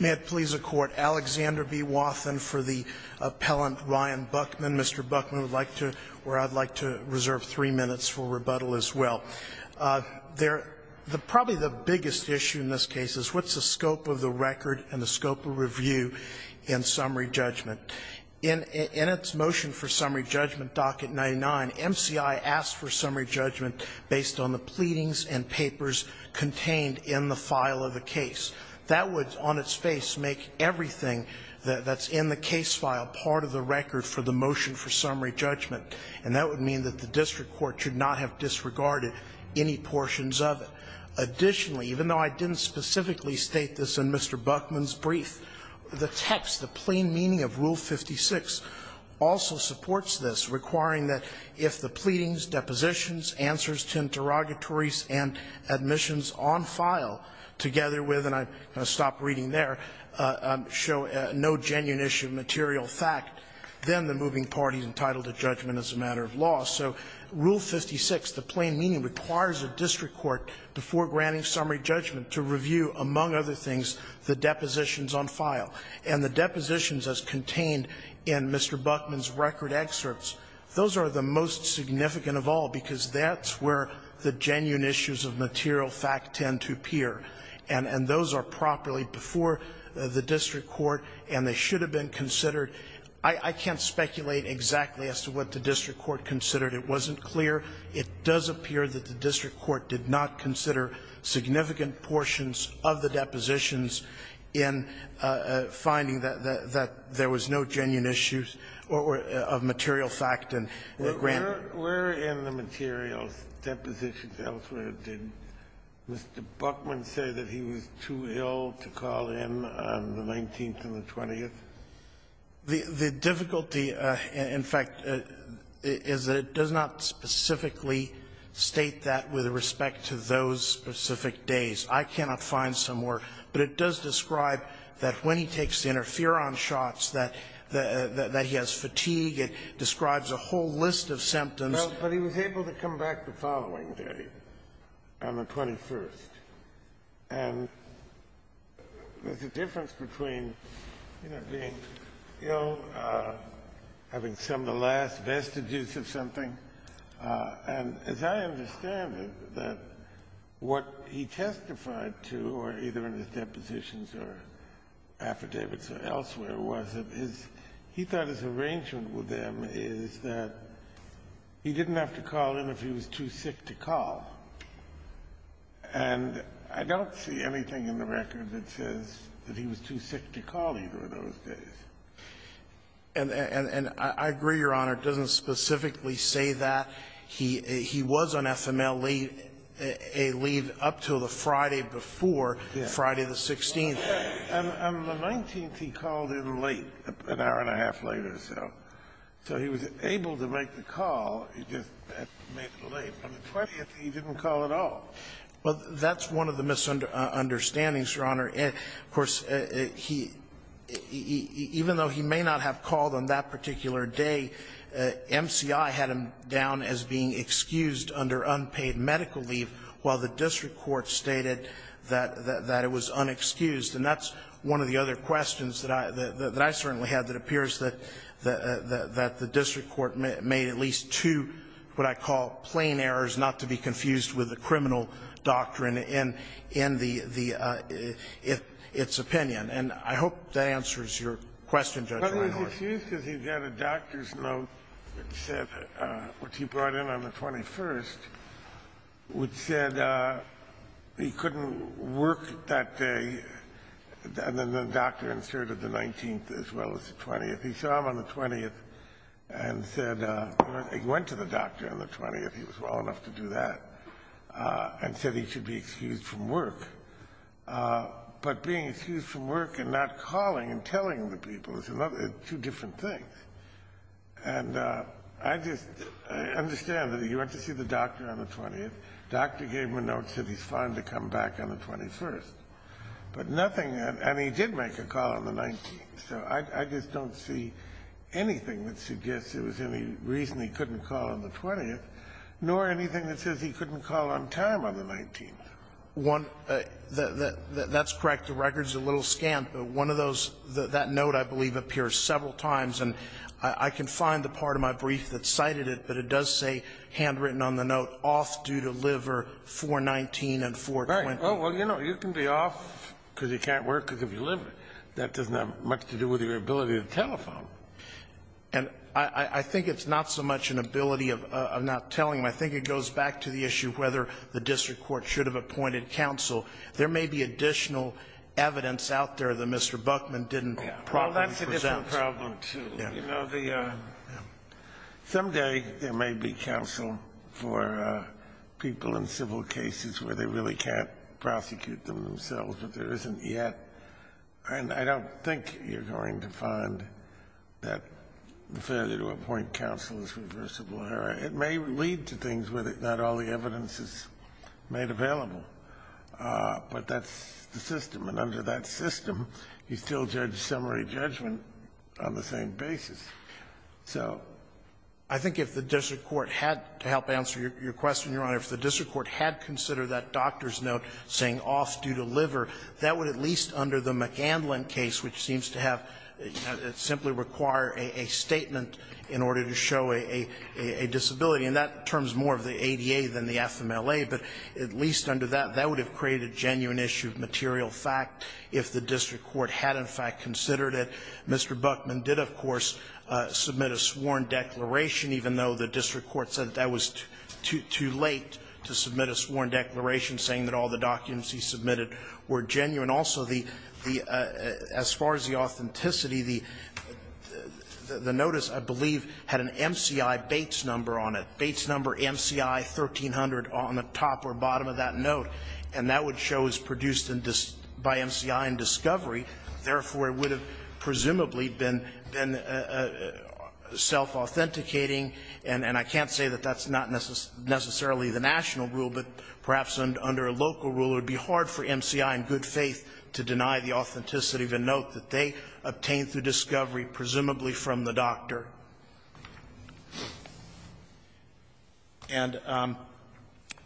May it please the Court, Alexander B. Wathen for the appellant, Ryan Buckman. Mr. Buckman would like to, or I'd like to reserve three minutes for rebuttal as well. There, probably the biggest issue in this case is what's the scope of the record and the scope of review in summary judgment? In its motion for summary judgment, docket 99, MCI asked for summary judgment based on the pleadings and papers contained in the file of the case. That would, on its face, make everything that's in the case file part of the record for the motion for summary judgment. And that would mean that the district court should not have disregarded any portions of it. Additionally, even though I didn't specifically state this in Mr. Buckman's brief, the text, the plain meaning of Rule 56 also supports this, requiring that if the pleadings, depositions, answers to interrogatories and admissions on file together with, and I'm going to stop reading there, show no genuine issue of material fact, then the moving party is entitled to judgment as a matter of law. So Rule 56, the plain meaning, requires a district court, before granting summary judgment, to review, among other things, the depositions on file. And the depositions as contained in Mr. Buckman's record excerpts, those are the most significant of all, because that's where the genuine issues of material fact tend to appear. And those are properly before the district court, and they should have been considered. I can't speculate exactly as to what the district court considered. It wasn't clear. It does appear that the district court did not consider significant portions of the depositions in finding that there was no genuine issues of material fact in the grant. Kennedy, where in the materials, depositions elsewhere, did Mr. Buckman say that he was too ill to call in on the 19th and the 20th? The difficulty, in fact, is that it does not specifically state that with respect to those specific days. I cannot find somewhere, but it does describe that when he takes the interferon shots, that he has fatigue. It describes a whole list of symptoms. Well, but he was able to come back the following day, on the 21st. And there's a difference between, you know, being ill, having some of the last vestiges of something. And as I understand it, that what he testified to, or either in his depositions or affidavits or elsewhere, was that his he thought his arrangement with them is that he didn't have to call in if he was too sick to call. And I don't see anything in the record that says that he was too sick to call either of those days. And I agree, Your Honor. It doesn't specifically say that. He was on FML leave, a leave up until the Friday before, Friday the 16th. On the 19th, he called in late, an hour and a half later or so. So he was able to make the call, he just had to make it late. On the 20th, he didn't call at all. Well, that's one of the misunderstandings, Your Honor. Of course, he – even though he may not have called on that particular day, MCI had gone down as being excused under unpaid medical leave, while the district court stated that it was unexcused. And that's one of the other questions that I certainly had that appears that the district court made at least two what I call plain errors, not to be confused with the criminal doctrine in the – its opinion. And I hope that answers your question, Judge Reinhold. It's excused because he got a doctor's note that said – which he brought in on the 21st, which said he couldn't work that day, and then the doctor inserted the 19th as well as the 20th. He saw him on the 20th and said – he went to the doctor on the 20th, he was well enough to do that, and said he should be excused from work. But being excused from work and not calling and telling the people is another – two different things. And I just understand that he went to see the doctor on the 20th, doctor gave him a note that said he's fine to come back on the 21st. But nothing – and he did make a call on the 19th. So I just don't see anything that suggests there was any reason he couldn't call on the 20th, nor anything that says he couldn't call on time on the 19th. One – that's correct. The record's a little scant, but one of those – that note, I believe, appears several times, and I can find the part of my brief that cited it, but it does say handwritten on the note, off due to liver 419 and 420. Right. Well, you know, you can be off because you can't work because of your liver. That doesn't have much to do with your ability to telephone. And I think it's not so much an ability of not telling him. I think it goes back to the issue of whether the district court should have appointed counsel. There may be additional evidence out there that Mr. Buckman didn't properly present. Well, that's a different problem, too. You know, the – someday there may be counsel for people in civil cases where they really can't prosecute them themselves, but there isn't yet. And I don't think you're going to find that the failure to appoint counsel is reversible. It may lead to things where not all the evidence is made available, but that's the system. And under that system, you still judge summary judgment on the same basis. So I think if the district court had to help answer your question, Your Honor, if the district court had considered that doctor's note saying off due to liver, that would at least under the McGandlin case, which seems to have – simply require a statement in order to show a disability. And that terms more of the ADA than the FMLA, but at least under that, that would have created a genuine issue of material fact if the district court had in fact considered it. Mr. Buckman did, of course, submit a sworn declaration, even though the district court said that that was too late to submit a sworn declaration, saying that all the documents he submitted were genuine. And also, the – as far as the authenticity, the notice, I believe, had an MCI Bates number on it, Bates number MCI 1300 on the top or bottom of that note, and that would show it was produced by MCI and Discovery. Therefore, it would have presumably been self-authenticating, and I can't say that that's not necessarily the national rule, but perhaps under a local rule, it would be hard for MCI, in good faith, to deny the authenticity of a note that they obtained through Discovery, presumably from the doctor. And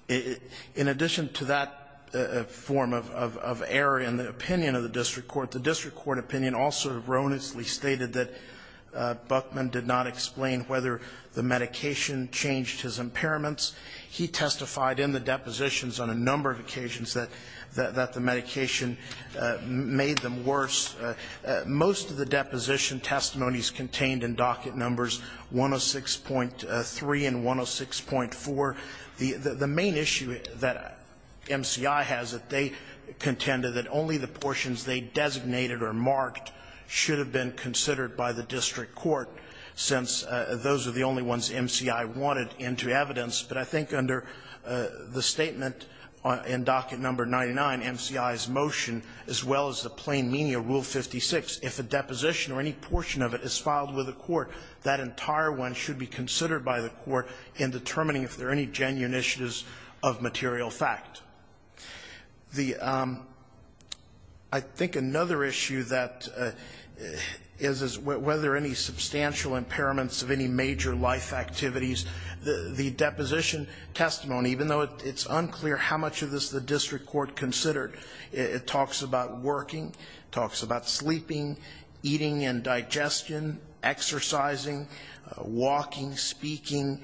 in addition to that form of error in the opinion of the district court, the district court opinion also erroneously stated that Buckman did not explain whether the medication changed his impairments. He testified in the depositions on a number of occasions that the medication made them worse. Most of the deposition testimonies contained in docket numbers 106.3 and 106.4. The main issue that MCI has, that they contended that only the portions they designated or marked should have been considered by the district court, since those are the only ones MCI wanted into evidence. But I think under the statement in docket number 99, MCI's motion, as well as the plain meaning of Rule 56, if a deposition or any portion of it is filed with a court, that entire one should be considered by the court in determining if there are any genuine issues of material fact. The – I think another issue that is, is whether any substantial impairments of any major life activities, the deposition testimony, even though it's unclear how much of this the district court considered, it talks about working, it talks about sleeping, eating and digestion, exercising, walking, speaking,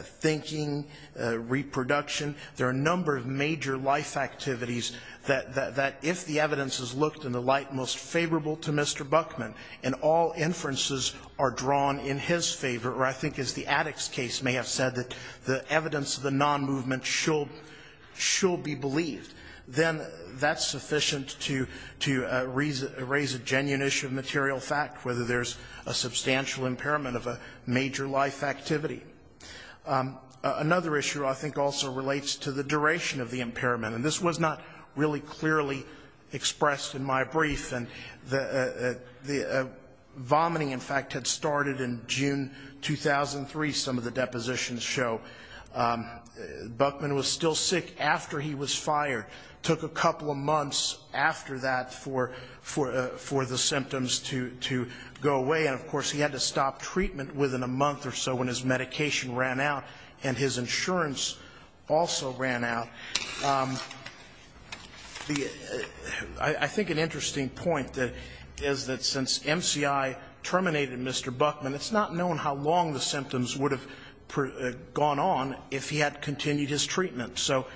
thinking, reproduction. There are a number of major life activities that, if the evidence is looked in the light most favorable to Mr. Buckman, and all inferences are drawn in his favor, or I think as the addicts' case may have said, that the evidence of the nonmovement should be believed, then that's sufficient to raise a genuine issue of material fact, whether there's a substantial impairment of a major life activity. Another issue I think also relates to the duration of the impairment. And this was not really clearly expressed in my brief, and the vomiting in fact had started in June 2003, some of the depositions show. Buckman was still sick after he was fired, took a couple of months after that for the symptoms to go away, and of course he had to stop treatment within a month or so when his medication ran out and his insurance also ran out. I think an interesting point is that since MCI terminated Mr. Buckman, it's not known how long the symptoms would have gone on if he had continued his treatment. So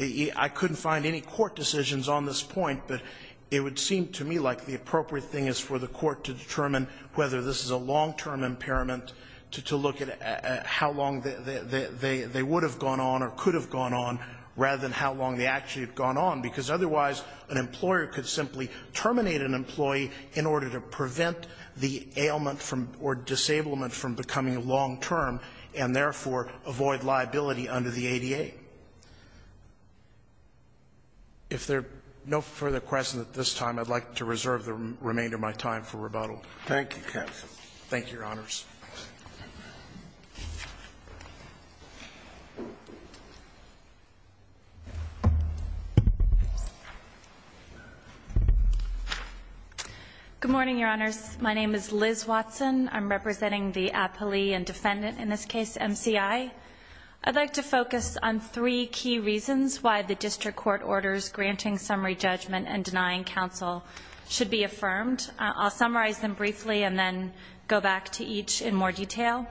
I couldn't find any court decisions on this point, but it would seem to me like the appropriate thing is for the court to determine whether this is a long-term impairment, to look at how long they would have gone on or could have gone on, rather than how long they actually had gone on, because otherwise an employer could simply terminate an employee in order to prevent the ailment or disablement from becoming long-term and, therefore, avoid liability under the ADA. If there are no further questions at this time, I'd like to reserve the remainder Thank you, counsel. Thank you, Your Honors. Good morning, Your Honors. My name is Liz Watson. I'm representing the appellee and defendant in this case, MCI. I'd like to focus on three key reasons why the district court orders granting summary judgment and denying counsel should be affirmed. I'll summarize them briefly and then go back to each in more detail.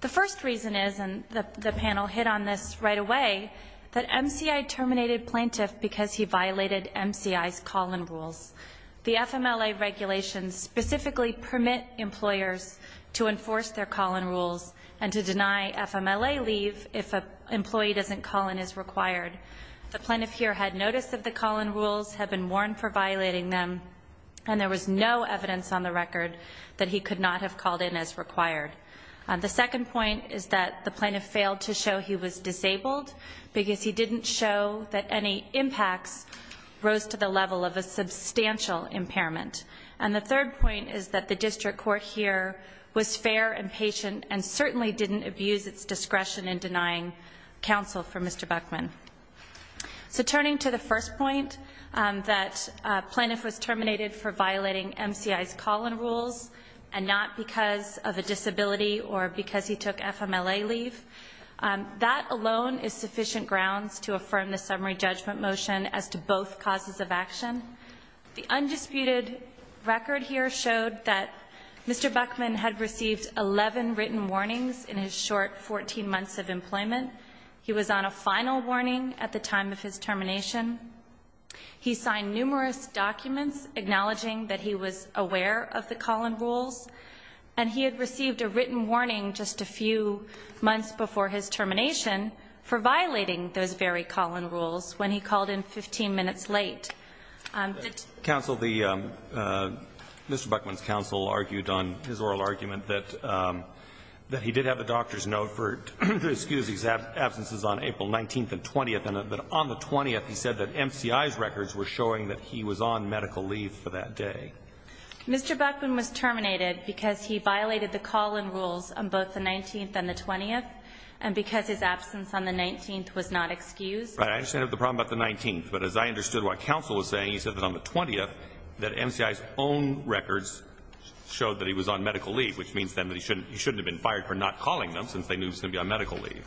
The first reason is, and the panel hit on this right away, that MCI terminated plaintiff because he violated MCI's call-in rules. The FMLA regulations specifically permit employers to enforce their call-in rules and to deny FMLA leave if an employee doesn't call in as required. The plaintiff here had notice of the call-in rules, had been warned for violating them, and there was no evidence on the record that he could not have called in as required. The second point is that the plaintiff failed to show he was disabled because he didn't show that any impacts rose to the level of a substantial impairment. And the third point is that the district court here was fair and patient and certainly didn't abuse its discretion in denying counsel for Mr. Buckman. So turning to the first point, that plaintiff was terminated for violating MCI's call-in rules and not because of a disability or because he took FMLA leave. That alone is sufficient grounds to affirm the summary judgment motion as to both causes of action. The undisputed record here showed that Mr. Buckman had received 11 written warnings in his short 14 months of employment. He was on a final warning at the time of his termination. He signed numerous documents acknowledging that he was aware of the call-in rules. And he had received a written warning just a few months before his termination for violating those very call-in rules when he called in 15 minutes late. The- He had absences on April 19th and 20th, and on the 20th he said that MCI's records were showing that he was on medical leave for that day. Mr. Buckman was terminated because he violated the call-in rules on both the 19th and the 20th, and because his absence on the 19th was not excused. I understand the problem about the 19th, but as I understood what counsel was saying, he said that on the 20th, that MCI's own records showed that he was on medical leave, which means then that he shouldn't have been fired for not calling them since they knew he was going to be on medical leave.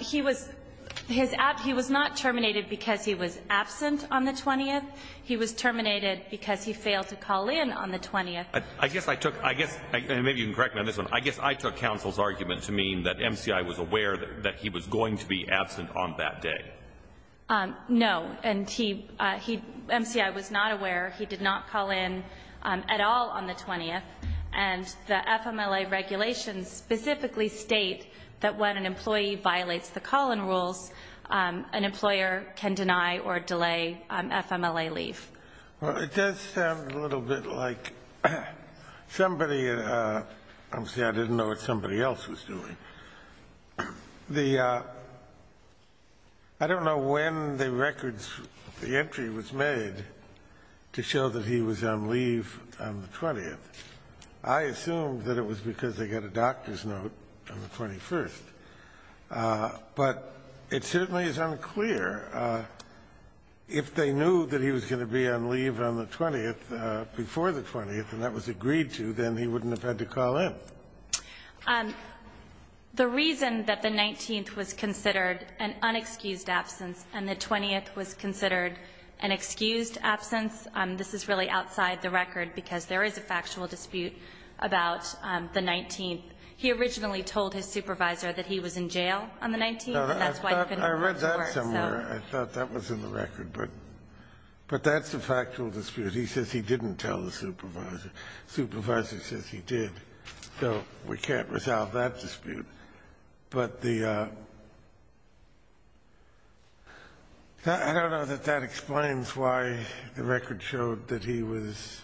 He was not terminated because he was absent on the 20th. He was terminated because he failed to call in on the 20th. I guess I took, I guess, and maybe you can correct me on this one, I guess I took counsel's argument to mean that MCI was aware that he was going to be absent on that day. No, and he, MCI was not aware, he did not call in at all on the 20th. And the FMLA regulations specifically state that when an employee violates the call-in rules, an employer can deny or delay FMLA leave. Well, it does sound a little bit like somebody, I'm sorry, I didn't know what somebody else was doing. The, I don't know when the records, the entry was made to show that he was on leave on the 20th. I assume that it was because they got a doctor's note on the 21st. But it certainly is unclear if they knew that he was going to be on leave on the 20th, before the 20th, and that was agreed to, then he wouldn't have had to call in. The reason that the 19th was considered an unexcused absence and the 20th was considered an excused absence, this is really outside the record, because there is a factual dispute about the 19th. He originally told his supervisor that he was in jail on the 19th, and that's why he couldn't report. I read that somewhere, I thought that was in the record, but that's a factual dispute. He says he didn't tell the supervisor. The supervisor says he did. So we can't resolve that dispute. But the, I don't know that that explains why the record showed that he was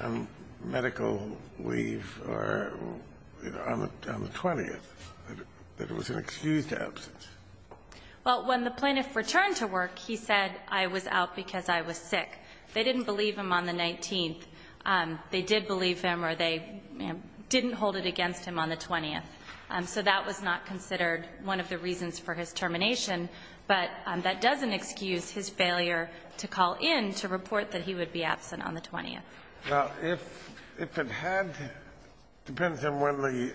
on medical leave or, you know, on the 20th, that it was an excused absence. Well, when the plaintiff returned to work, he said, I was out because I was sick. They didn't believe him on the 19th. They did believe him or they didn't hold it against him on the 20th. So that was not considered one of the reasons for his termination, but that doesn't excuse his failure to call in to report that he would be absent on the 20th. Well, if it had, it depends on when the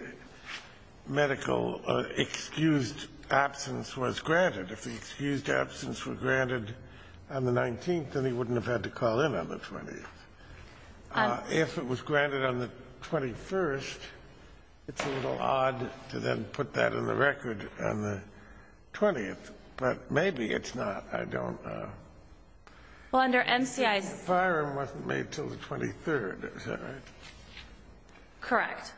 medical excused absence was granted. If the excused absence was granted on the 19th, then he wouldn't have had to call in on the 20th. If it was granted on the 21st, it's a little odd to then put that in the record on the 20th, but maybe it's not. I don't know. Well, under MCI's the fire wasn't made until the 23rd. Is that right? Correct.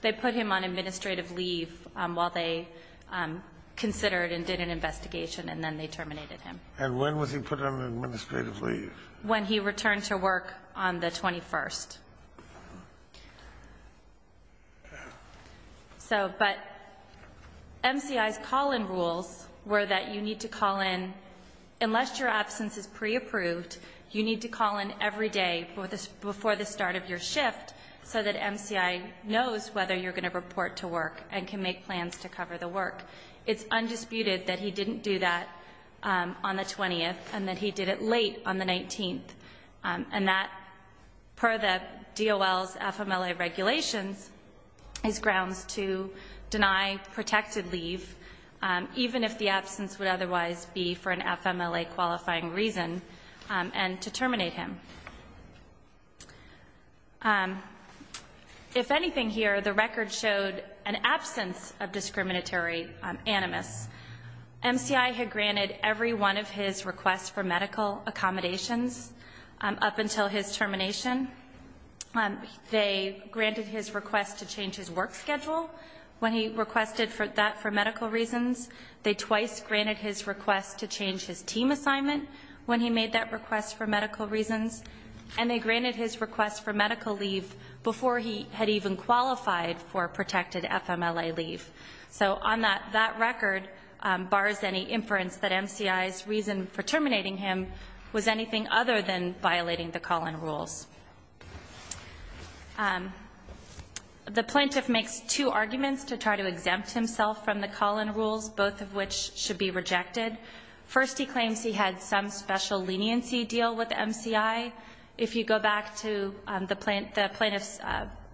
They put him on administrative leave while they considered and did an investigation and then they terminated him. And when was he put on administrative leave? When he returned to work on the 21st. So, but MCI's call-in rules were that you need to call in, unless your absence is preapproved, you need to call in every day before the start of your shift so that MCI knows whether you're going to report to work and can make plans to cover the work. It's undisputed that he didn't do that on the 20th and that he did it late on the 19th. And that, per the DOL's FMLA regulations, is grounds to deny protected leave, even if the absence would otherwise be for an FMLA-qualifying reason, and to terminate him. If anything here, the record showed an absence of discriminatory animus. MCI had granted every one of his requests for medical accommodations up until his termination. They granted his request to change his work schedule when he requested that for medical reasons. They twice granted his request to change his team assignment when he made that request for medical reasons. And they granted his request for medical leave before he had even qualified for protected FMLA leave. So on that record, bars any inference that MCI's reason for terminating him was anything other than violating the call-in rules. The plaintiff makes two arguments to try to exempt himself from the call-in rules, both of which should be rejected. First, he claims he had some special leniency deal with MCI. If you go back to the plaintiff's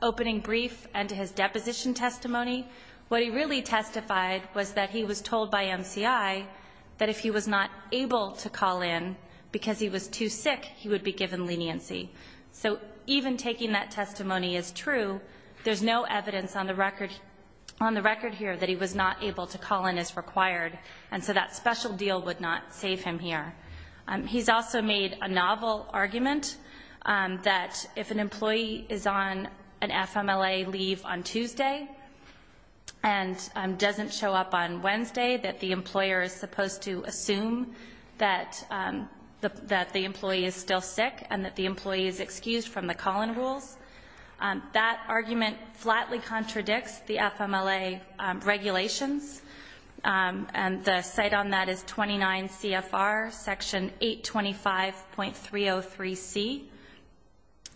opening brief and to his deposition testimony, what he really testified was that he was told by MCI that if he was not able to call in because he was too sick, he would be given leniency. So even taking that testimony as true, there's no evidence on the record here that he was not able to call in as required. And so that special deal would not save him here. He's also made a novel argument that if an employee is on an FMLA leave on Tuesday and doesn't show up on Wednesday, that the employer is supposed to assume that the employee is still sick and that the employee is excused from the call-in rules. That argument flatly contradicts the FMLA regulations, and the cite on that is 29 CFR section 825.303C.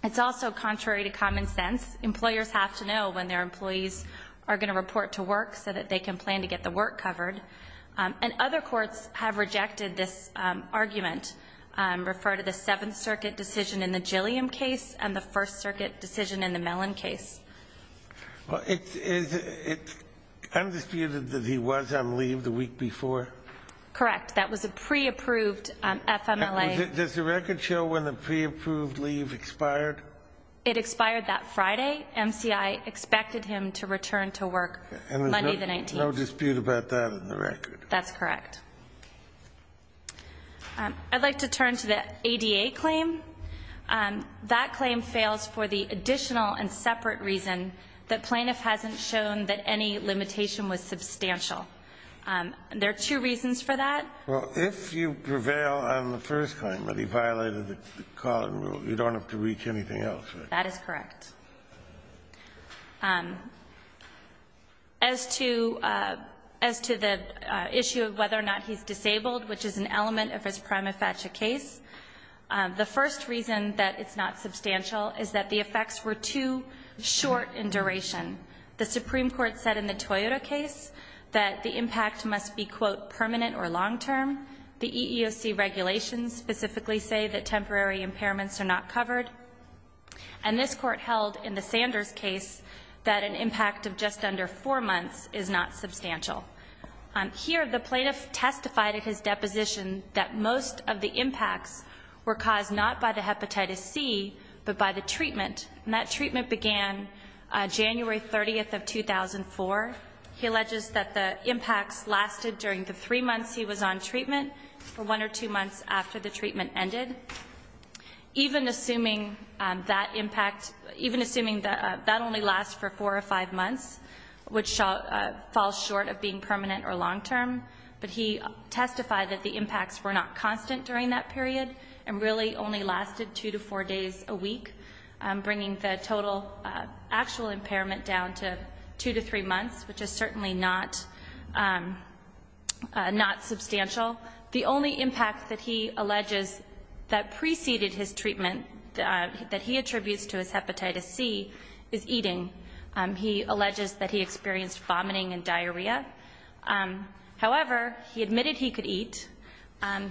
It's also contrary to common sense. Employers have to know when their employees are going to report to work so that they can plan to get the work covered. And other courts have rejected this argument, refer to the Seventh Circuit decision in the Mellon case. Well, it's undisputed that he was on leave the week before? Correct. That was a pre-approved FMLA. Does the record show when the pre-approved leave expired? It expired that Friday. MCI expected him to return to work Monday the 19th. And there's no dispute about that in the record? That's correct. I'd like to turn to the ADA claim. That claim fails for the additional and separate reason that plaintiff hasn't shown that any limitation was substantial. There are two reasons for that. Well, if you prevail on the first claim that he violated the call-in rule, you don't have to reach anything else, right? That is correct. As to the issue of whether or not he's disabled, which is an element of his prima The first reason that it's not substantial is that the effects were too short in duration. The Supreme Court said in the Toyota case that the impact must be, quote, permanent or long-term. The EEOC regulations specifically say that temporary impairments are not covered. And this court held in the Sanders case that an impact of just under four months is not substantial. Here, the plaintiff testified at his deposition that most of the impacts were caused not by the hepatitis C, but by the treatment. And that treatment began January 30th of 2004. He alleges that the impacts lasted during the three months he was on treatment for one or two months after the treatment ended. Even assuming that impact, even assuming that that only lasts for four or five months, which falls short of being permanent or long-term, but he testified that the impacts were not lasted two to four days a week, bringing the total actual impairment down to two to three months, which is certainly not substantial. The only impact that he alleges that preceded his treatment that he attributes to his hepatitis C is eating. He alleges that he experienced vomiting and diarrhea. However, he admitted he could eat.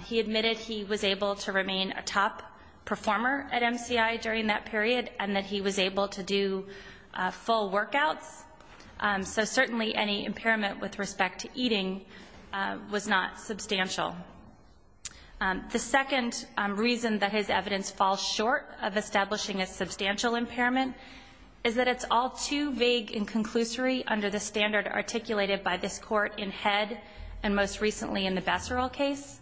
He admitted he was able to remain a top performer at MCI during that period and that he was able to do full workouts. So certainly any impairment with respect to eating was not substantial. The second reason that his evidence falls short of establishing a substantial impairment is that it's all too vague and conclusory under the standard articulated by this court in Head and most recently in the Besserill case.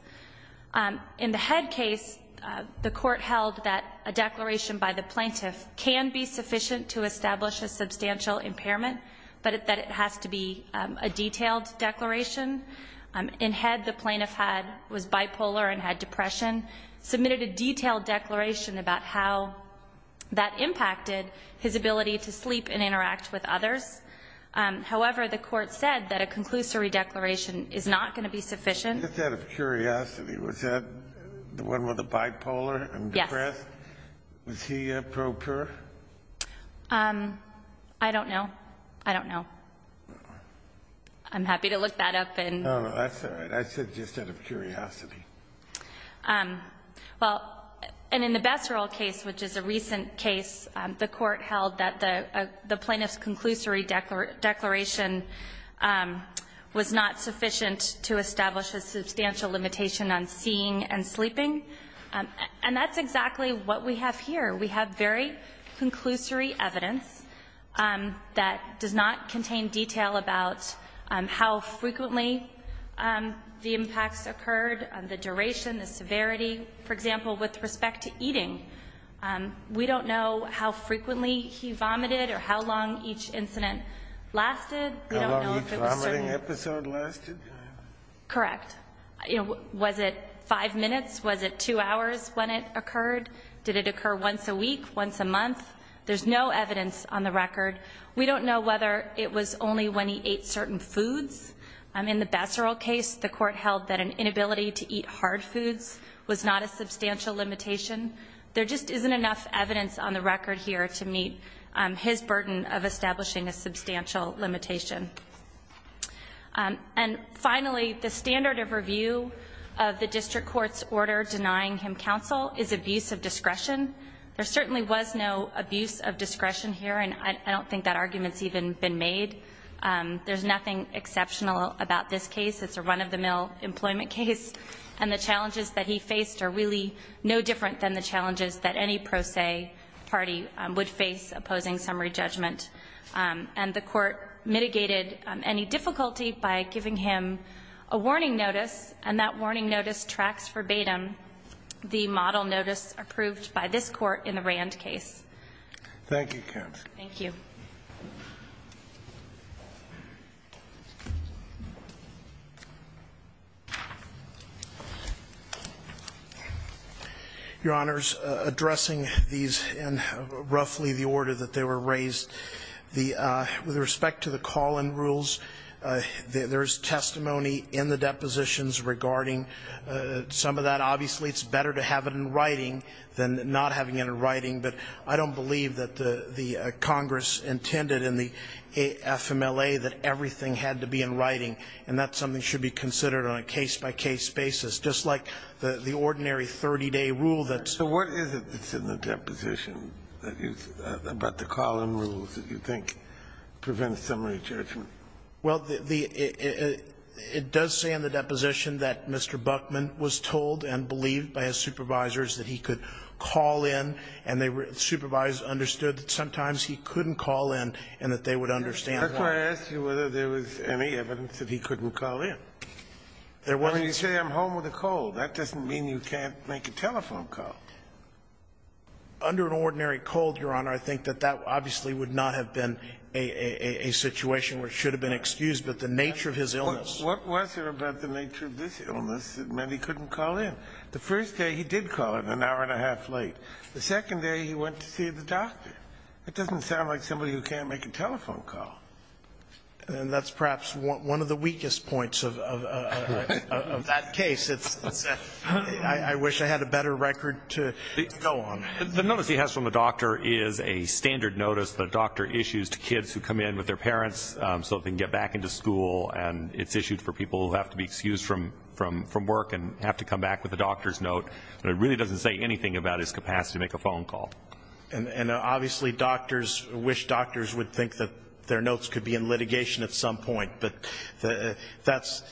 In the Head case, the court held that a declaration by the plaintiff can be sufficient to establish a substantial impairment, but that it has to be a detailed declaration. In Head, the plaintiff was bipolar and had depression, submitted a detailed declaration about how that impacted his ability to sleep and interact with others. However, the court said that a conclusory declaration is not going to be sufficient. Just out of curiosity, was that the one with the bipolar and depressed? Yes. Was he a pro-pure? I don't know. I don't know. I'm happy to look that up. No, no, that's all right. I said just out of curiosity. Well, and in the Besserill case, which is a recent case, the court held that the plaintiff's declaration was not sufficient to establish a substantial limitation on seeing and sleeping. And that's exactly what we have here. We have very conclusory evidence that does not contain detail about how frequently the impacts occurred, the duration, the severity. For example, with respect to eating, we don't know how frequently he vomited or how long each incident lasted. How long each vomiting episode lasted? Correct. Was it five minutes? Was it two hours when it occurred? Did it occur once a week, once a month? There's no evidence on the record. We don't know whether it was only when he ate certain foods. In the Besserill case, the court held that an inability to eat hard foods was not a substantial limitation. There just isn't enough evidence on the record here to meet his burden of establishing a substantial limitation. And finally, the standard of review of the district court's order denying him counsel is abuse of discretion. There certainly was no abuse of discretion here, and I don't think that argument's even been made. There's nothing exceptional about this case. It's a run-of-the-mill employment case. And the challenges that he faced are really no different than the challenges that any pro se party would face opposing summary judgment. And the court mitigated any difficulty by giving him a warning notice, and that warning notice tracks verbatim the model notice approved by this Court in the Rand case. Thank you, counsel. Thank you. Thank you. Your Honors, addressing these in roughly the order that they were raised, with respect to the call-in rules, there's testimony in the depositions regarding some of that. Obviously, it's better to have it in writing than not having it in writing, but I don't think Congress intended in the FMLA that everything had to be in writing, and that's something that should be considered on a case-by-case basis, just like the ordinary 30-day rule that's been used. So what is it that's in the deposition about the call-in rules that you think prevents summary judgment? Well, it does say in the deposition that Mr. Buckman was told and believed by his supervisors that he could call in, and they were the supervisors understood that sometimes he couldn't call in and that they would understand that. That's why I asked you whether there was any evidence that he couldn't call in. There wasn't. Well, when you say I'm home with a cold, that doesn't mean you can't make a telephone call. Under an ordinary cold, Your Honor, I think that that obviously would not have been a situation where it should have been excused, but the nature of his illness. What was there about the nature of this illness that meant he couldn't call in? The first day he did call in an hour and a half late. The second day he went to see the doctor. That doesn't sound like somebody who can't make a telephone call. And that's perhaps one of the weakest points of that case. I wish I had a better record to go on. The notice he has from the doctor is a standard notice the doctor issues to kids who come in with their parents so they can get back into school, and it's issued for people who have to be excused from work and have to come back with a doctor's note. But it really doesn't say anything about his capacity to make a phone call. And obviously doctors wish doctors would think that their notes could be in litigation at some point. But that's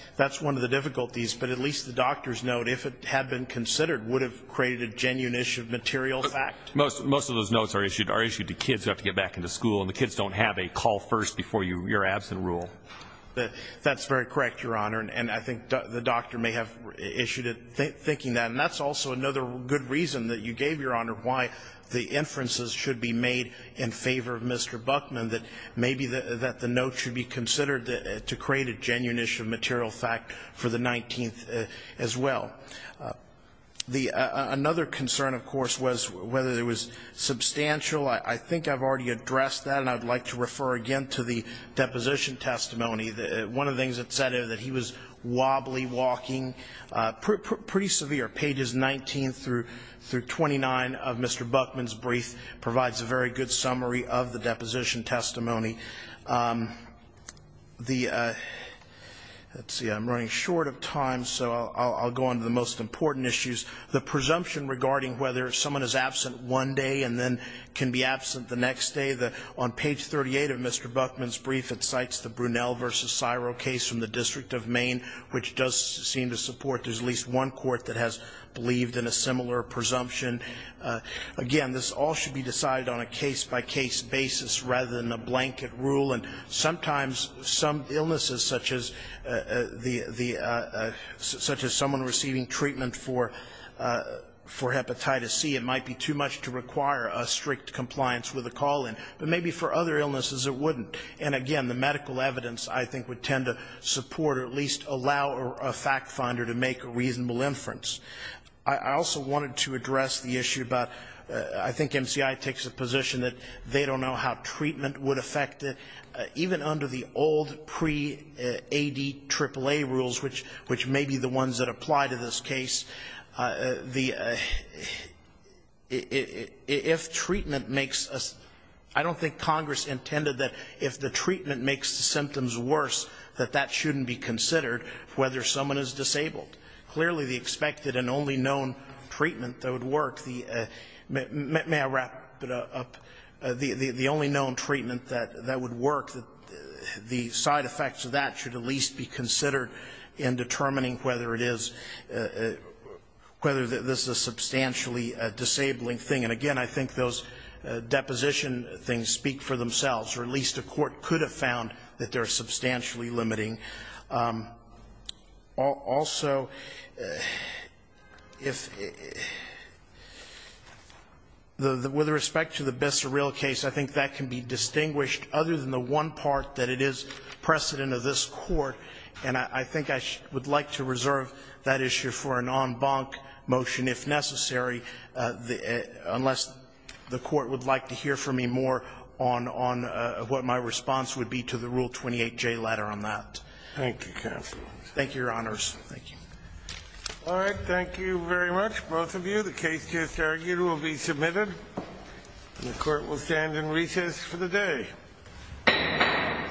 one of the difficulties. But at least the doctor's note, if it had been considered, would have created a genuine issue of material fact. Most of those notes are issued to kids who have to get back into school, and the kids don't have a call first before your absent rule. That's very correct, Your Honor. And I think the doctor may have issued it thinking that. And that's also another good reason that you gave, Your Honor, why the inferences should be made in favor of Mr. Buckman, that maybe that the note should be considered to create a genuine issue of material fact for the 19th as well. The other concern, of course, was whether it was substantial. I think I've already addressed that. And I'd like to refer again to the deposition testimony. One of the things that's said is that he was wobbly walking, pretty severe. Pages 19 through 29 of Mr. Buckman's brief provides a very good summary of the deposition testimony. I'm running short of time, so I'll go on to the most important issues. The presumption regarding whether someone is absent one day and then can be absent the next day. On page 38 of Mr. Buckman's brief, it cites the Brunel v. Ciro case from the District of Maine, which does seem to support there's at least one court that has believed in a similar presumption. Again, this all should be decided on a case-by-case basis rather than a blanket rule. And sometimes some illnesses such as someone receiving treatment for hepatitis C, it might be too much to require a strict compliance with a call-in, but maybe for other illnesses it wouldn't. And again, the medical evidence I think would tend to support or at least allow a fact finder to make a reasonable inference. I also wanted to address the issue about I think MCI takes a position that they don't know how treatment would affect it. Even under the old pre-ADAAA rules, which may be the ones that apply to this case, the – if treatment makes – I don't think Congress intended that if the treatment makes the symptoms worse, that that shouldn't be considered whether someone is disabled. Clearly, the expected and only known treatment that would work, the – may I wrap it up? The only known treatment that would work, the side effects of that should at least be considered in determining whether it is – whether this is a substantially disabling thing. And again, I think those deposition things speak for themselves, or at least a court could have found that they're substantially limiting. Also, if – with respect to the Bissell Real case, I think that can be distinguished other than the one part that it is precedent of this Court. And I think I would like to reserve that issue for an en banc motion if necessary, unless the Court would like to hear from me more on what my response would be to the Rule 28J letter on that. Thank you, counsel. Thank you, Your Honors. Thank you. All right. Thank you very much, both of you. The case just argued will be submitted. And the Court will stand in recess for the day.